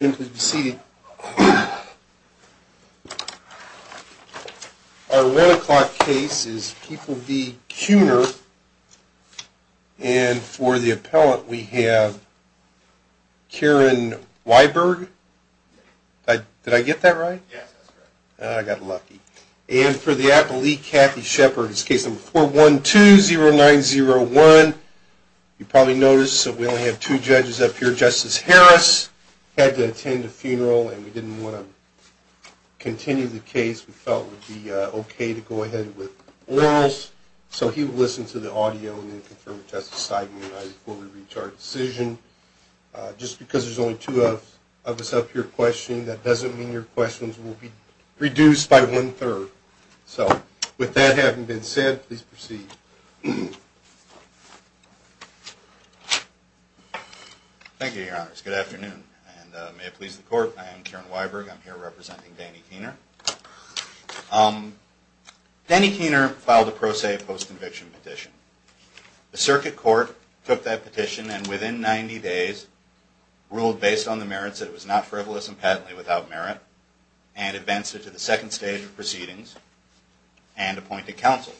and for the appellant we have Karen Weiberg. Did I get that right? Yes. I got lucky. And for the appellee, Kathy Shepard. Case number 412-0901. You probably noticed that we only have two judges up here. Justice Harris had to attend a funeral and we didn't want to continue the case. We felt it would be okay to go ahead with orals. So he will listen to the audio and then confirm with Justice Seidman and I before we reach our decision. Just because there's only two of us up here questioning, that doesn't mean your questions will be reduced by one-third. So with that having been said, please proceed. Thank you, Your Honors. Good afternoon. And may it please the Court, I am Karen Weiberg. I'm here representing Danny Kuehner. Danny Kuehner filed a pro se post-conviction petition. The circuit court took that petition and within 90 days ruled based on the merits that it was not frivolous and patently without merit and advanced it to the second stage of proceedings and appointed counsel.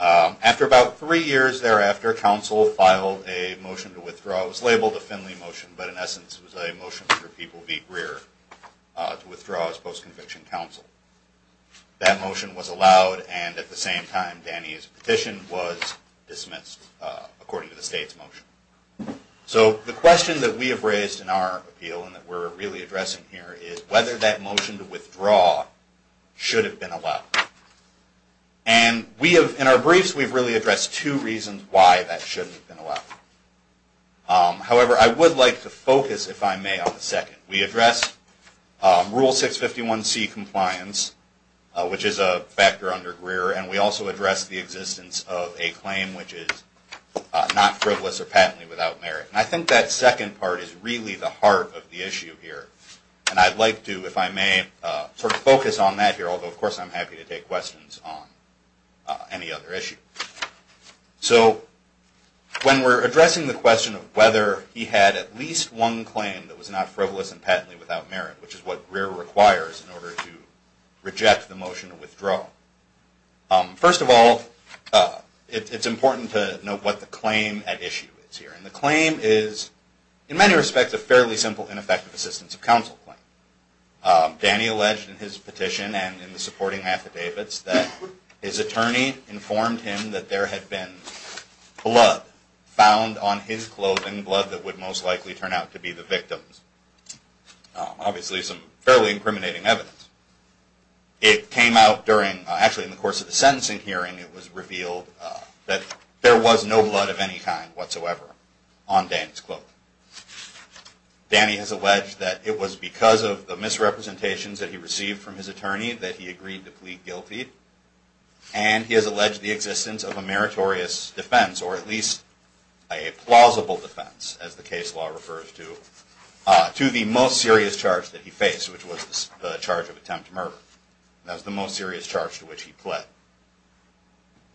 After about three years thereafter, counsel filed a motion to withdraw. It was labeled a Finley motion, but in essence it was a motion for people v. Greer to withdraw as post-conviction counsel. That motion was So the question that we have raised in our appeal and that we're really addressing here is whether that motion to withdraw should have been allowed. And we have, in our briefs, we've really addressed two reasons why that shouldn't have been allowed. However, I would like to focus, if I may, on the second. We addressed Rule 651C compliance, which is a factor under of a claim which is not frivolous or patently without merit. And I think that second part is really the heart of the issue here. And I'd like to, if I may, sort of focus on that here, although of course I'm happy to take questions on any other issue. So when we're addressing the question of whether he had at least one claim that was not frivolous and patently without merit, which is what Greer requires in order to reject the motion to withdraw. First of all, it's important to note what the claim at issue is here. And the claim is, in many respects, a fairly simple ineffective assistance of counsel claim. Danny alleged in his petition and in the supporting affidavits that his attorney informed him that there had been blood found on his clothing, blood that would most likely turn out to be the victim's. Obviously some fairly incriminating evidence. It came out during, actually in the course of the sentencing hearing, it was revealed that there was no blood of any kind whatsoever on Danny's clothing. Danny has alleged that it was because of the misrepresentations that he received from his attorney that he agreed to plead guilty. And he has the case law refers to, to the most serious charge that he faced, which was the charge of attempt murder. That was the most serious charge to which he pled.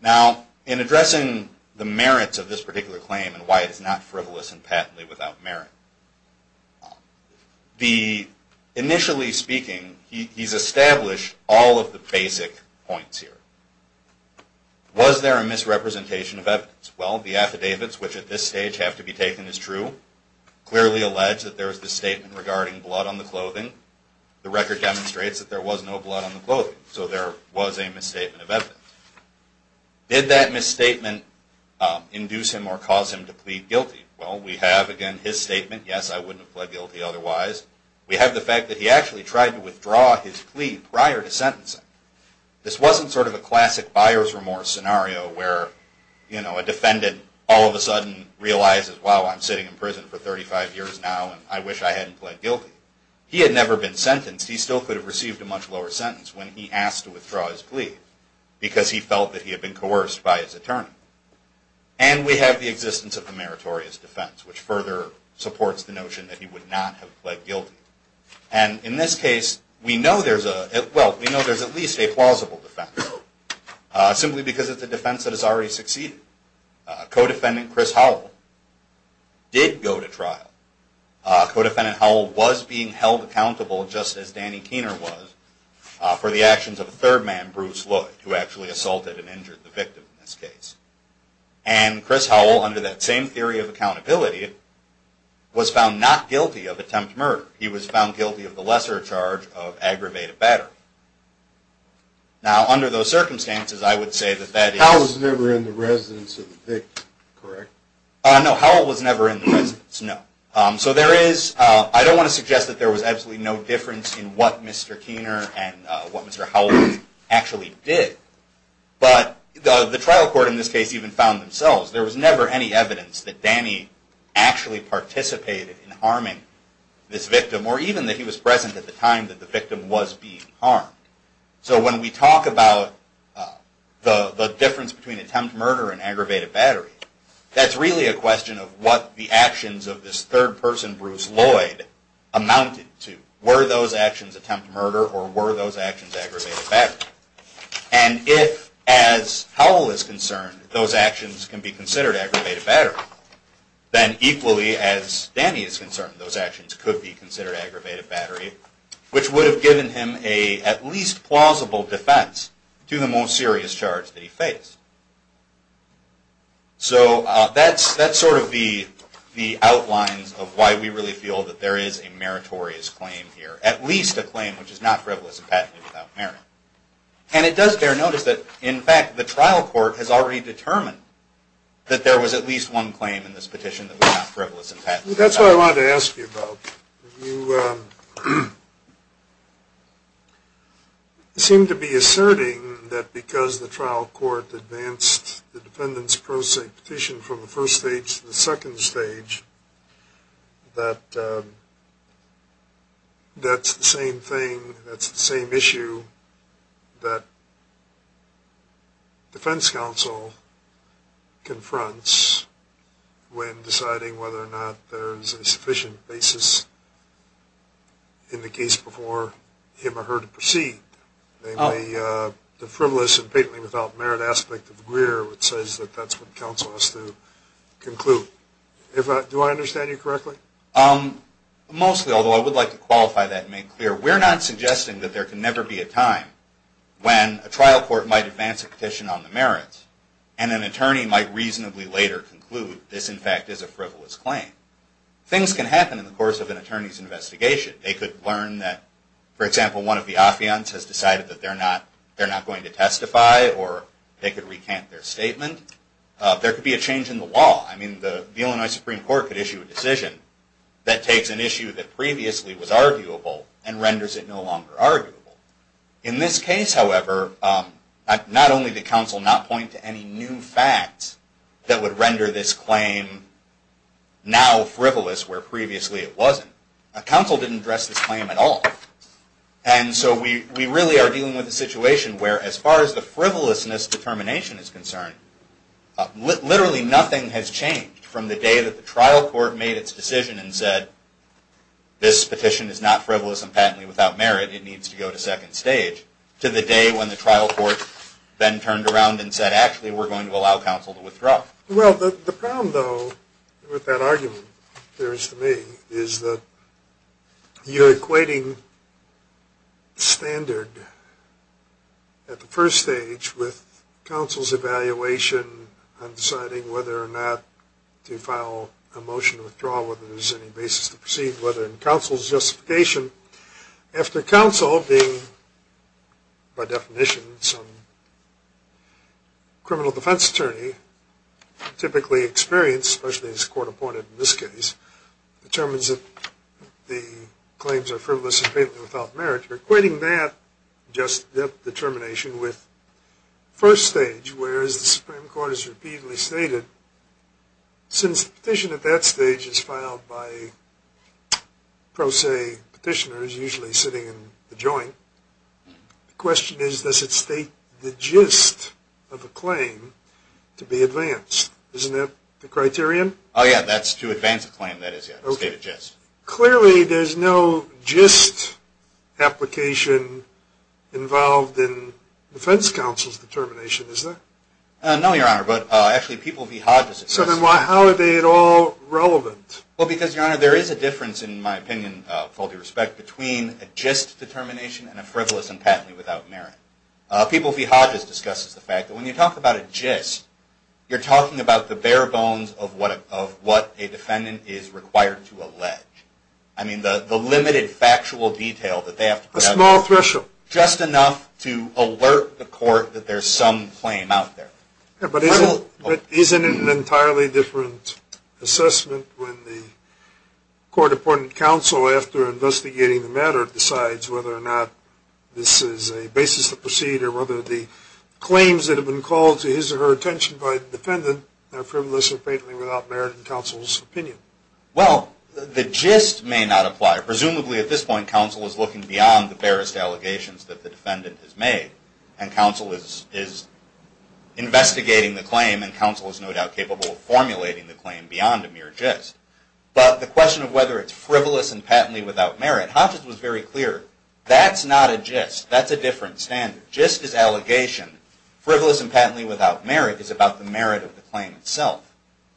Now, in addressing the merits of this particular claim and why it is not frivolous and patently without merit, initially speaking, he's established all of the basic points here. Was there a misrepresentation of evidence? Well, the affidavits, which at this point have been taken as true, clearly allege that there is this statement regarding blood on the clothing. The record demonstrates that there was no blood on the clothing. So there was a misstatement of evidence. Did that misstatement induce him or cause him to plead guilty? Well, we have, again, his statement, yes, I wouldn't have pled guilty otherwise. We have the fact that he actually tried to withdraw his plea prior to sentencing. This wasn't sort of a classic buyer's remorse scenario where a defendant all of a sudden realizes, wow, I'm sitting in prison for 35 years now and I wish I hadn't pled guilty. He had never been sentenced. He still could have received a much lower sentence when he asked to withdraw his plea because he felt that he had been coerced by his attorney. And we have the existence of a meritorious defense, which further supports the notion that he would not have pled guilty. And in this case, we know there's at least a plausible defense, simply because it's a defense that has already succeeded. Codefendant Chris Howell did go to trial. Codefendant Howell was being held accountable, just as Danny Keener was, for the actions of a third man, Bruce Lloyd, who actually assaulted and injured the victim in this case. And Chris Howell, under that same theory of accountability, was found not guilty of attempt murder. He was found guilty of the lesser charge of aggravated battery. Now, under those circumstances, I would say that that is- Howell was never in the residence of the victim, correct? No, Howell was never in the residence, no. So there is, I don't want to suggest that there was absolutely no difference in what Mr. Keener and what Mr. Keener did. But the trial court in this case even found themselves, there was never any evidence that Danny actually participated in harming this victim, or even that he was present at the time that the victim was being harmed. So when we talk about the difference between attempt murder and aggravated battery, that's really a question of what the actions of this third person, Bruce Lloyd, amounted to. Were those actions attempt murder, or were those actions aggravated battery? And if, as Howell is concerned, those actions can be considered aggravated battery, then equally, as Danny is concerned, those actions could be considered aggravated battery, which would have given him a at least plausible defense to the most serious charge that he faced. So that's sort of the outlines of why we really feel that there is a meritorious claim here. At least a claim which is not frivolous and patently without merit. And it does bear notice that, in fact, the trial court has already determined that there was at least one claim in this petition that was not frivolous and patently without merit. That's what I wanted to ask you about. You seem to be asserting that because the trial court advanced the defendant's prosecution from the first stage to the second stage, that that's the same thing, that's the same issue that defense counsel confronts when deciding whether or not there's a sufficient basis in the case before him or her to proceed. The frivolous and patently without merit aspect of Greer says that that's what counsel has to conclude. Do I understand you correctly? Mostly, although I would like to qualify that and make it clear. We're not suggesting that there can never be a time when a trial court might advance a petition on the merits, and an attorney might reasonably later conclude this, in fact, is a frivolous claim. Things can happen in the course of an attorney's investigation. They could learn that, for example, one of the affiants has decided that they're not going to testify, or they could recant their statement. There could be a change in the law. I mean, the Illinois Supreme Court could issue a decision that takes an issue that previously was arguable and renders it no longer arguable. In this case, however, not only did counsel not point to any new facts that would render this claim now frivolous where previously it wasn't, counsel didn't address this claim at all. And so we really are dealing with a situation where, as far as the frivolousness determination is concerned, literally nothing has changed from the day that the trial court made its decision and said, this petition is not frivolous and patently without merit, it needs to go to second stage, to the day when the trial court then turned around and said, actually, we're going to allow counsel to withdraw. Well, the problem, though, with that argument, appears to me, is that you're equating standard at the first stage with counsel's evaluation on deciding whether or not to file a motion to withdraw, whether there's any basis to proceed, whether in counsel's justification. After counsel being, by definition, some criminal defense attorney, typically experienced, especially as a court appointed in this case, determines that the claims are frivolous and patently without merit, you're equating that determination with first stage, where, as the Supreme Court has repeatedly stated, since the petition at that stage is filed by pro se petitioners, usually sitting in the joint, the question is, does it state the gist of the claim to be advanced? Isn't that the criterion? Oh, yeah, that's to advance a claim, that is, yeah, to state a gist. Clearly, there's no gist application involved in defense counsel's determination, is there? No, Your Honor, but actually, People v. Hodges. So then, how are they at all relevant? Well, because, Your Honor, there is a difference, in my opinion, with all due respect, between a gist determination and a frivolous and patently without merit. People v. Hodges discusses the fact that when you talk about a gist, you're talking about the bare bones of what a defendant is required to allege. I mean, the limited factual detail that they have to provide. A small threshold. Just enough to alert the court that there's some claim out there. But isn't it an entirely different assessment when the court-appointed counsel, after investigating the matter, decides whether or not this is a basis to proceed, or whether the claims that have been called to his or her attention by the defendant are frivolous or patently without merit in counsel's opinion? Well, the gist may not apply. Presumably, at this point, counsel is looking beyond the barest allegations that the defendant has made. And counsel is investigating the claim, and counsel is no doubt capable of formulating the claim beyond a mere gist. But the question of whether it's frivolous and patently without merit, Hodges was very clear. That's not a gist. That's a different standard. Gist is allegation. Frivolous and patently without merit is about the merit of the claim itself.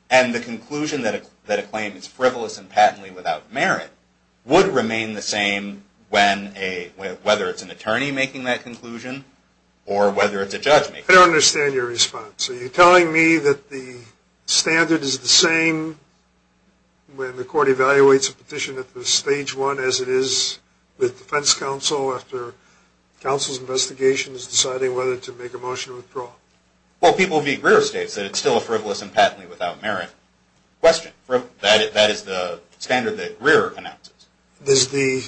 And the conclusion that a claim is frivolous and patently without merit would remain the same whether it's an attorney making that conclusion or whether it's a judge making that conclusion. I don't understand your response. Are you telling me that the standard is the same when the court evaluates a petition at the stage one, as it is with defense counsel after counsel's investigation is deciding whether to make a motion to withdraw? Well, people read Greer states that it's still a frivolous and patently without merit question. That is the standard that Greer announces. Does the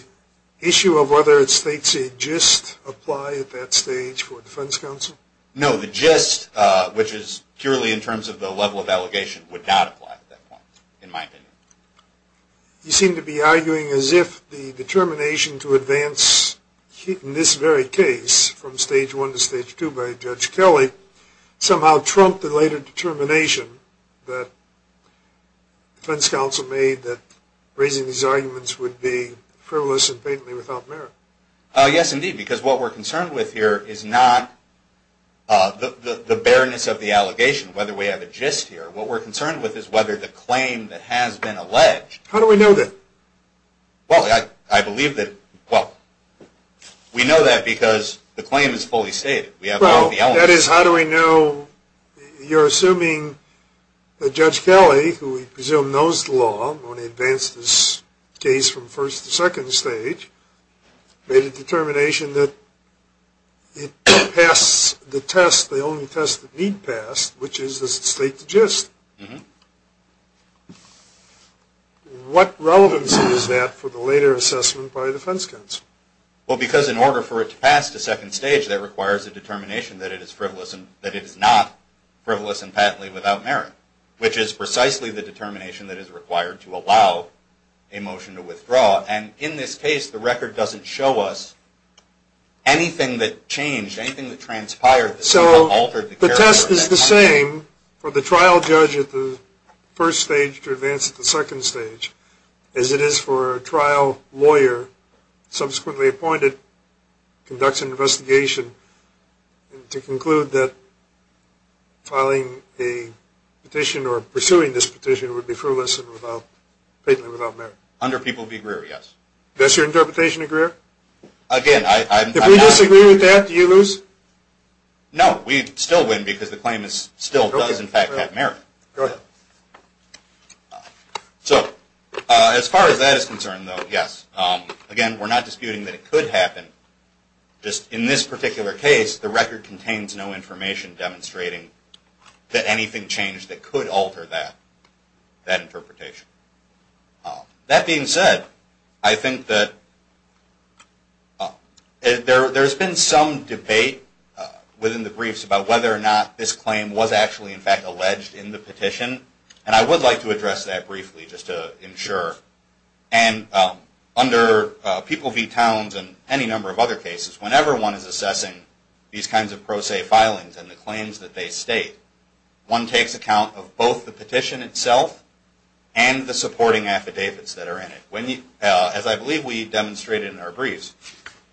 issue of whether it states a gist apply at that stage for defense counsel? No. The gist, which is purely in terms of the level of allegation, would not apply at that point, in my opinion. You seem to be arguing as if the determination to advance in this very case from stage one to stage two by Judge Kelly somehow trumped the later determination that defense counsel made that raising these arguments would be frivolous and patently without merit. Yes, indeed, because what we're concerned with here is not the bareness of the allegation, whether we have a gist here. What we're concerned with is whether the claim that has been alleged. How do we know that? Well, I believe that – well, we know that because the claim is fully stated. That is, how do we know – you're assuming that Judge Kelly, who we presume knows the law, when he advanced this case from first to second stage, made a determination that it passed the test, the only test that need pass, which is, does it state the gist? What relevancy is that for the later assessment by defense counsel? Well, because in order for it to pass to second stage, that requires a determination that it is frivolous and – that it is not frivolous and patently without merit, which is precisely the determination that is required to allow a motion to withdraw. And in this case, the record doesn't show us anything that changed, anything that transpired. So the test is the same for the trial judge at the first stage to advance to the second stage, as it is for a trial lawyer, subsequently appointed, conducts an investigation, to conclude that filing a petition or pursuing this petition would be frivolous and without – patently without merit. Under people's degree, yes. Does your interpretation agree? Again, I'm not – If we disagree with that, do you lose? No, we still win because the claim is – still does, in fact, have merit. Go ahead. So as far as that is concerned, though, yes. Again, we're not disputing that it could happen. Just in this particular case, the record contains no information demonstrating that anything changed that could alter that interpretation. That being said, I think that there's been some debate within the briefs about whether or not this claim was actually, in fact, alleged in the petition. And I would like to address that briefly just to ensure. And under People v. Towns and any number of other cases, whenever one is assessing these kinds of pro se filings and the claims that they state, one takes account of both the petition itself and the supporting affidavits that are in it. As I believe we demonstrated in our briefs,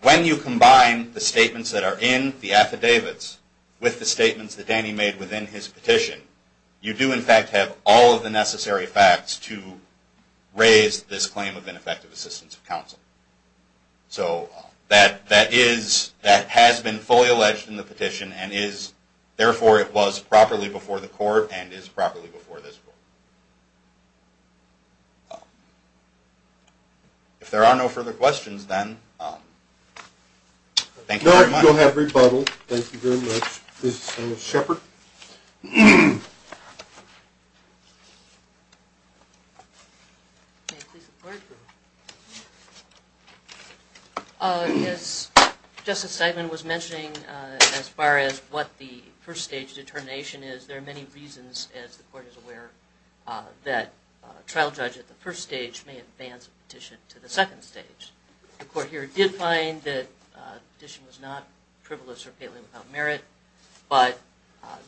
when you combine the statements that are in the affidavits with the statements that Danny made within his petition, you do, in fact, have all of the necessary facts to raise this claim of ineffective assistance of counsel. So that has been fully alleged in the petition and is, therefore, it was properly before the court and is properly before this court. If there are no further questions, then thank you very much. No, you'll have rebuttal. Thank you very much. This is Thomas Shepard. As Justice Seidman was mentioning, as far as what the first stage determination is, there are many reasons, as the court is aware, that a trial judge at the first stage may advance a petition to the second stage. The court here did find that the petition was not frivolous or palely without merit, but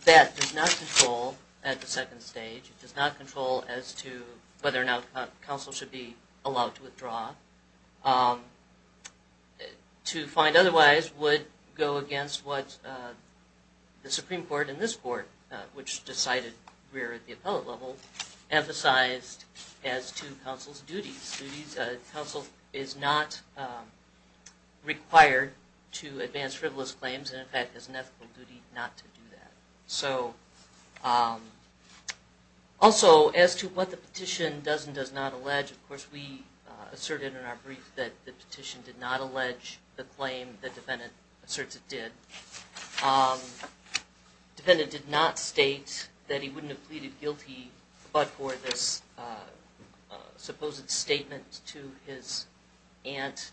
that does not control, at the second stage, it does not control as to whether or not counsel should be allowed to withdraw. To find otherwise would go against what the Supreme Court and this court, which decided rare at the appellate level, emphasized as to counsel's duties. Counsel is not required to advance frivolous claims and, in fact, has an ethical duty not to do that. So, also, as to what the petition does and does not allege, of course, we asserted in our brief that the petition did not allege the claim the defendant asserts it did. The defendant did not state that he wouldn't have pleaded guilty but for this supposed statement to his aunt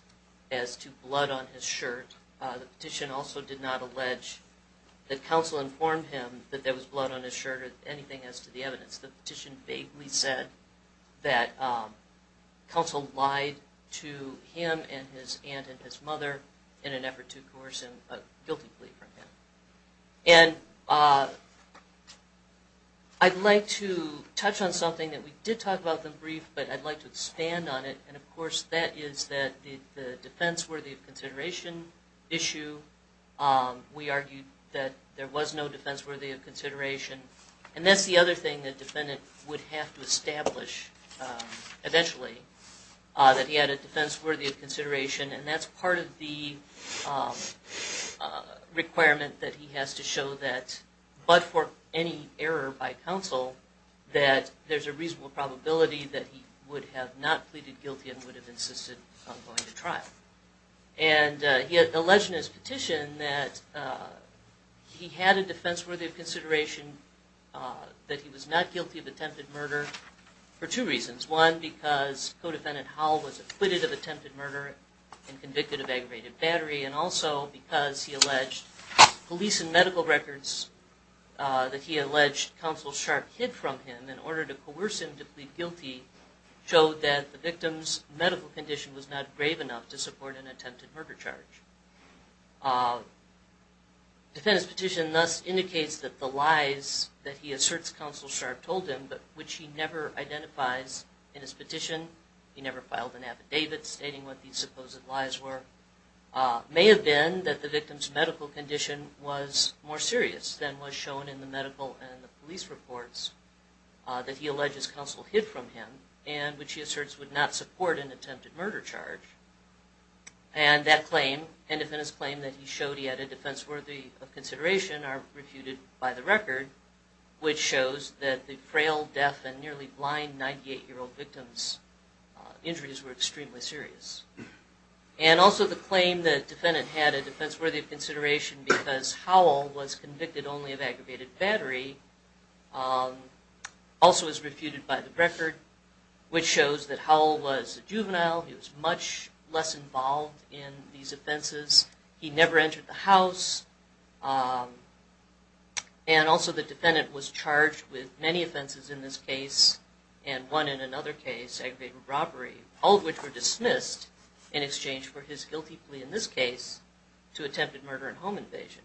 as to blood on his shirt. The petition also did not allege that counsel informed him that there was blood on his shirt or anything as to the evidence. The petition vaguely said that counsel lied to him and his aunt and his mother in an effort to coerce a guilty plea from him. And I'd like to touch on something that we did talk about in the brief, but I'd like to expand on it, and, of course, that is that the defense worthy of consideration issue, we argued that there was no defense worthy of consideration. And that's the other thing the defendant would have to establish eventually, that he had a defense worthy of consideration. And that's part of the requirement that he has to show that, but for any error by counsel, that there's a reasonable probability that he would have not pleaded guilty and would have insisted on going to trial. And he alleged in his petition that he had a defense worthy of consideration, that he was not guilty of attempted murder for two reasons. One, because co-defendant Howell was acquitted of attempted murder and convicted of aggravated battery. And also because he alleged police and medical records that he alleged Counsel Sharp hid from him in order to coerce him to plead guilty showed that the victim's medical condition was not brave enough to support an attempted murder charge. Defendant's petition thus indicates that the lies that he asserts Counsel Sharp told him, but which he never identifies in his petition. He never filed an affidavit stating what these supposed lies were, may have been that the victim's medical condition was more serious than was shown in the medical and the police reports that he alleges Counsel hid from him, and which he asserts would not support an attempted murder charge. And that claim, and defendant's claim that he showed he had a defense worthy of consideration are refuted by the record, which shows that the frail, deaf, and nearly blind 98-year-old victim's injuries were extremely serious. And also the claim that defendant had a defense worthy of consideration because Howell was convicted only of aggravated battery also is refuted by the record, which shows that Howell was a juvenile, he was much less involved in these offenses, he never entered the house, and also the defendant was charged with many offenses in this case, and one in another case, aggravated robbery, all of which were dismissed in exchange for his guilty plea in this case to attempted murder and home invasion.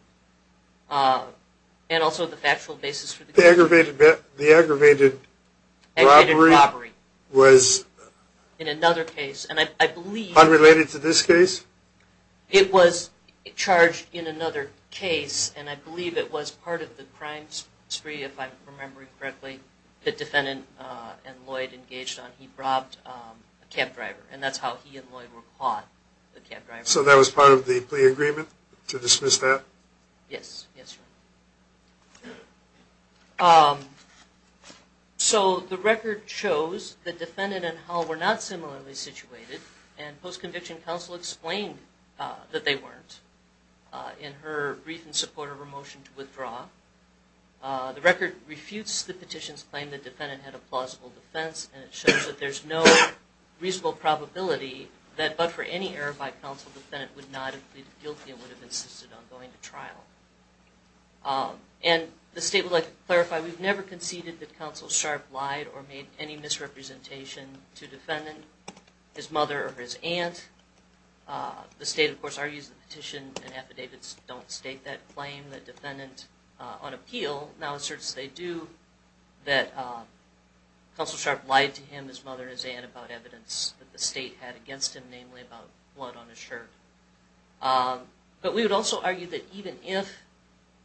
And also the factual basis for the case. The aggravated robbery was unrelated to this case? It was charged in another case, and I believe it was part of the crime spree, if I'm remembering correctly, that defendant and Lloyd engaged on. He robbed a cab driver, and that's how he and Lloyd were caught, the cab driver. So that was part of the plea agreement, to dismiss that? Yes, yes, Your Honor. So the record shows that defendant and Howell were not similarly situated, and post-conviction counsel explained that they weren't in her brief in support of her motion to withdraw. The record refutes the petition's claim that defendant had a plausible defense, and it shows that there's no reasonable probability that, but for any error by counsel, defendant would not have pleaded guilty and would have insisted on going to trial. And the State would like to clarify, we've never conceded that counsel sharp lied or made any misrepresentation to defendant, his mother, or his aunt. The State, of course, argues the petition and affidavits don't state that claim. The defendant, on appeal, now asserts they do, that counsel sharp lied to him, his mother, and his aunt about evidence that the State had against him, namely about blood on his shirt. But we would also argue that even if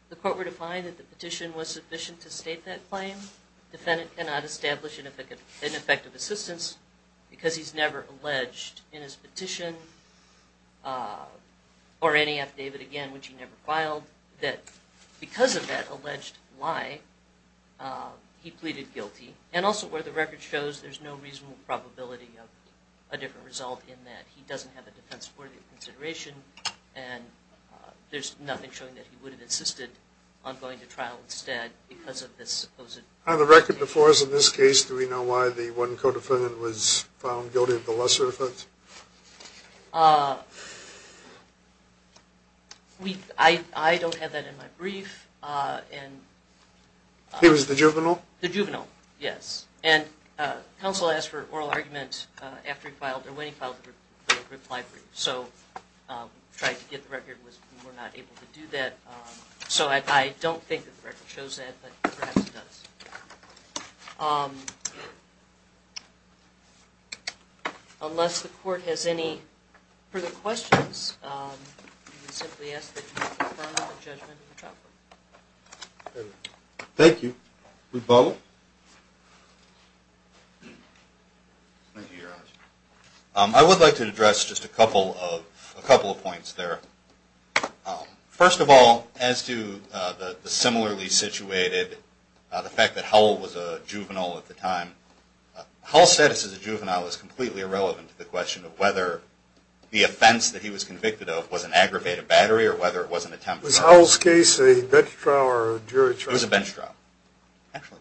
the court were to find that the petition was sufficient to state that claim, defendant cannot establish an effective assistance because he's never alleged in his petition or any affidavit, again, which he never filed, that because of that alleged lie, he pleaded guilty. And also where the record shows there's no reasonable probability of a different result in that he doesn't have a defense worthy of consideration, and there's nothing showing that he would have insisted on going to trial instead because of this supposed... On the record before us in this case, do we know why the one co-defendant was found guilty of the lesser offense? I don't have that in my brief. He was the juvenile? The juvenile, yes. And counsel asked for oral argument after he filed, or when he filed the reply brief, so we tried to get the record, but we were not able to do that. So I don't think that the record shows that, but perhaps it does. Unless the court has any further questions, we simply ask that you confirm the judgment of the trial court. Thank you. We follow? Thank you, Your Honor. I would like to address just a couple of points there. First of all, as to the similarly situated, the fact that Howell was a juvenile at the time, Howell's status as a juvenile is completely irrelevant to the question of whether the offense that he was convicted of was an aggravated battery or whether it was an attempt... Was Howell's case a bench trial or a jury trial? It was a bench trial, actually.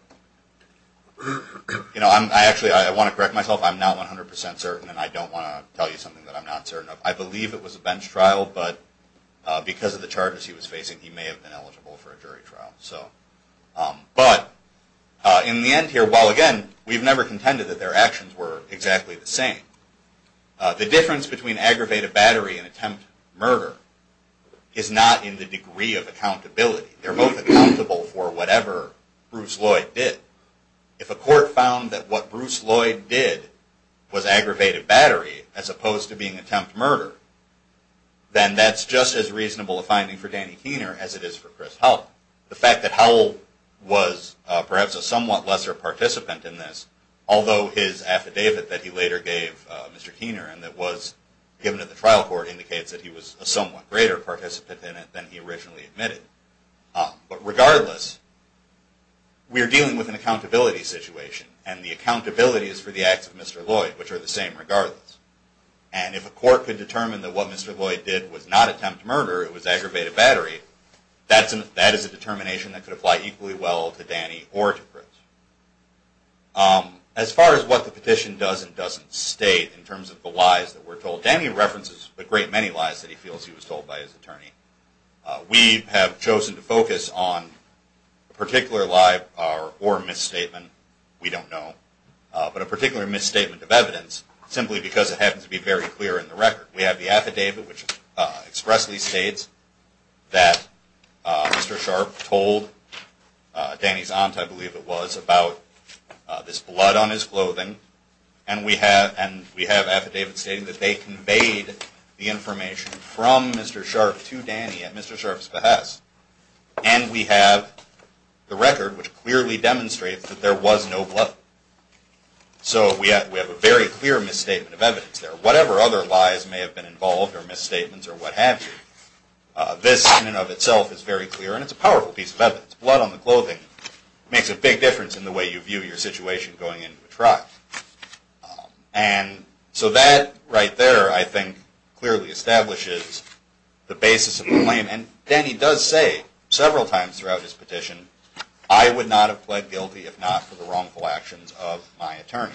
Actually, I want to correct myself. I'm not 100% certain, and I don't want to tell you something that I'm not certain of. I believe it was a bench trial, but because of the charges he was facing, he may have been eligible for a jury trial. But in the end here, while again, we've never contended that their actions were exactly the same, the difference between aggravated battery and attempt murder is not in the degree of accountability. They're both accountable for whatever Bruce Lloyd did. If a court found that what Bruce Lloyd did was aggravated battery as opposed to being attempt murder, then that's just as reasonable a finding for Danny Keener as it is for Chris Howell. The fact that Howell was perhaps a somewhat lesser participant in this, although his affidavit that he later gave Mr. Keener and that was given at the trial court indicates that he was a somewhat greater participant in it than he originally admitted. But regardless, we're dealing with an accountability situation, and the accountability is for the acts of Mr. Lloyd, which are the same regardless. And if a court could determine that what Mr. Lloyd did was not attempt murder, it was aggravated battery, that is a determination that could apply equally well to Danny or to Chris. As far as what the petition does and doesn't state in terms of the lies that were told, Danny references a great many lies that he feels he was told by his attorney. We have chosen to focus on a particular lie or misstatement, we don't know, but a particular misstatement of evidence simply because it happens to be very clear in the record. We have the affidavit which expressly states that Mr. Sharp told Danny's aunt, I believe it was, about this blood on his clothing, and we have affidavit stating that they conveyed the information from Mr. Sharp to Danny at Mr. Sharp's behest. And we have the record which clearly demonstrates that there was no blood. So we have a very clear misstatement of evidence there. Whatever other lies may have been involved or misstatements or what have you, this in and of itself is very clear and it's a powerful piece of evidence. Blood on the clothing makes a big difference in the way you view your situation going into a trial. And so that right there, I think, clearly establishes the basis of the claim. And Danny does say several times throughout his petition, I would not have pled guilty if not for the wrongful actions of my attorney.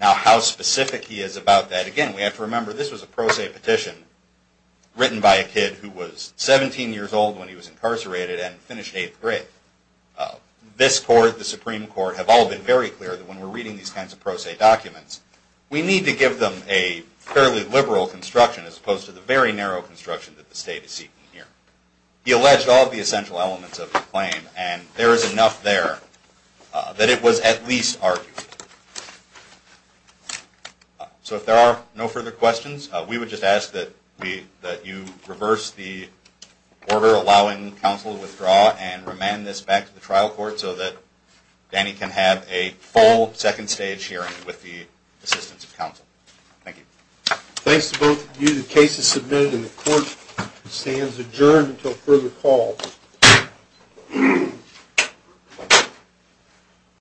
Now how specific he is about that, again, we have to remember this was a pro se petition written by a kid who was 17 years old when he was incarcerated and finished eighth grade. This court, the Supreme Court, have all been very clear that when we're reading these kinds of pro se documents, we need to give them a fairly liberal construction as opposed to the very narrow construction that the state is seeking here. He alleged all of the essential elements of the claim and there is enough there that it was at least argued. So if there are no further questions, we would just ask that you reverse the order allowing counsel to withdraw and remand this back to the trial court so that Danny can have a full second stage hearing with the assistance of counsel. Thank you. Thanks to both of you, the case is submitted and the court stands adjourned until further call.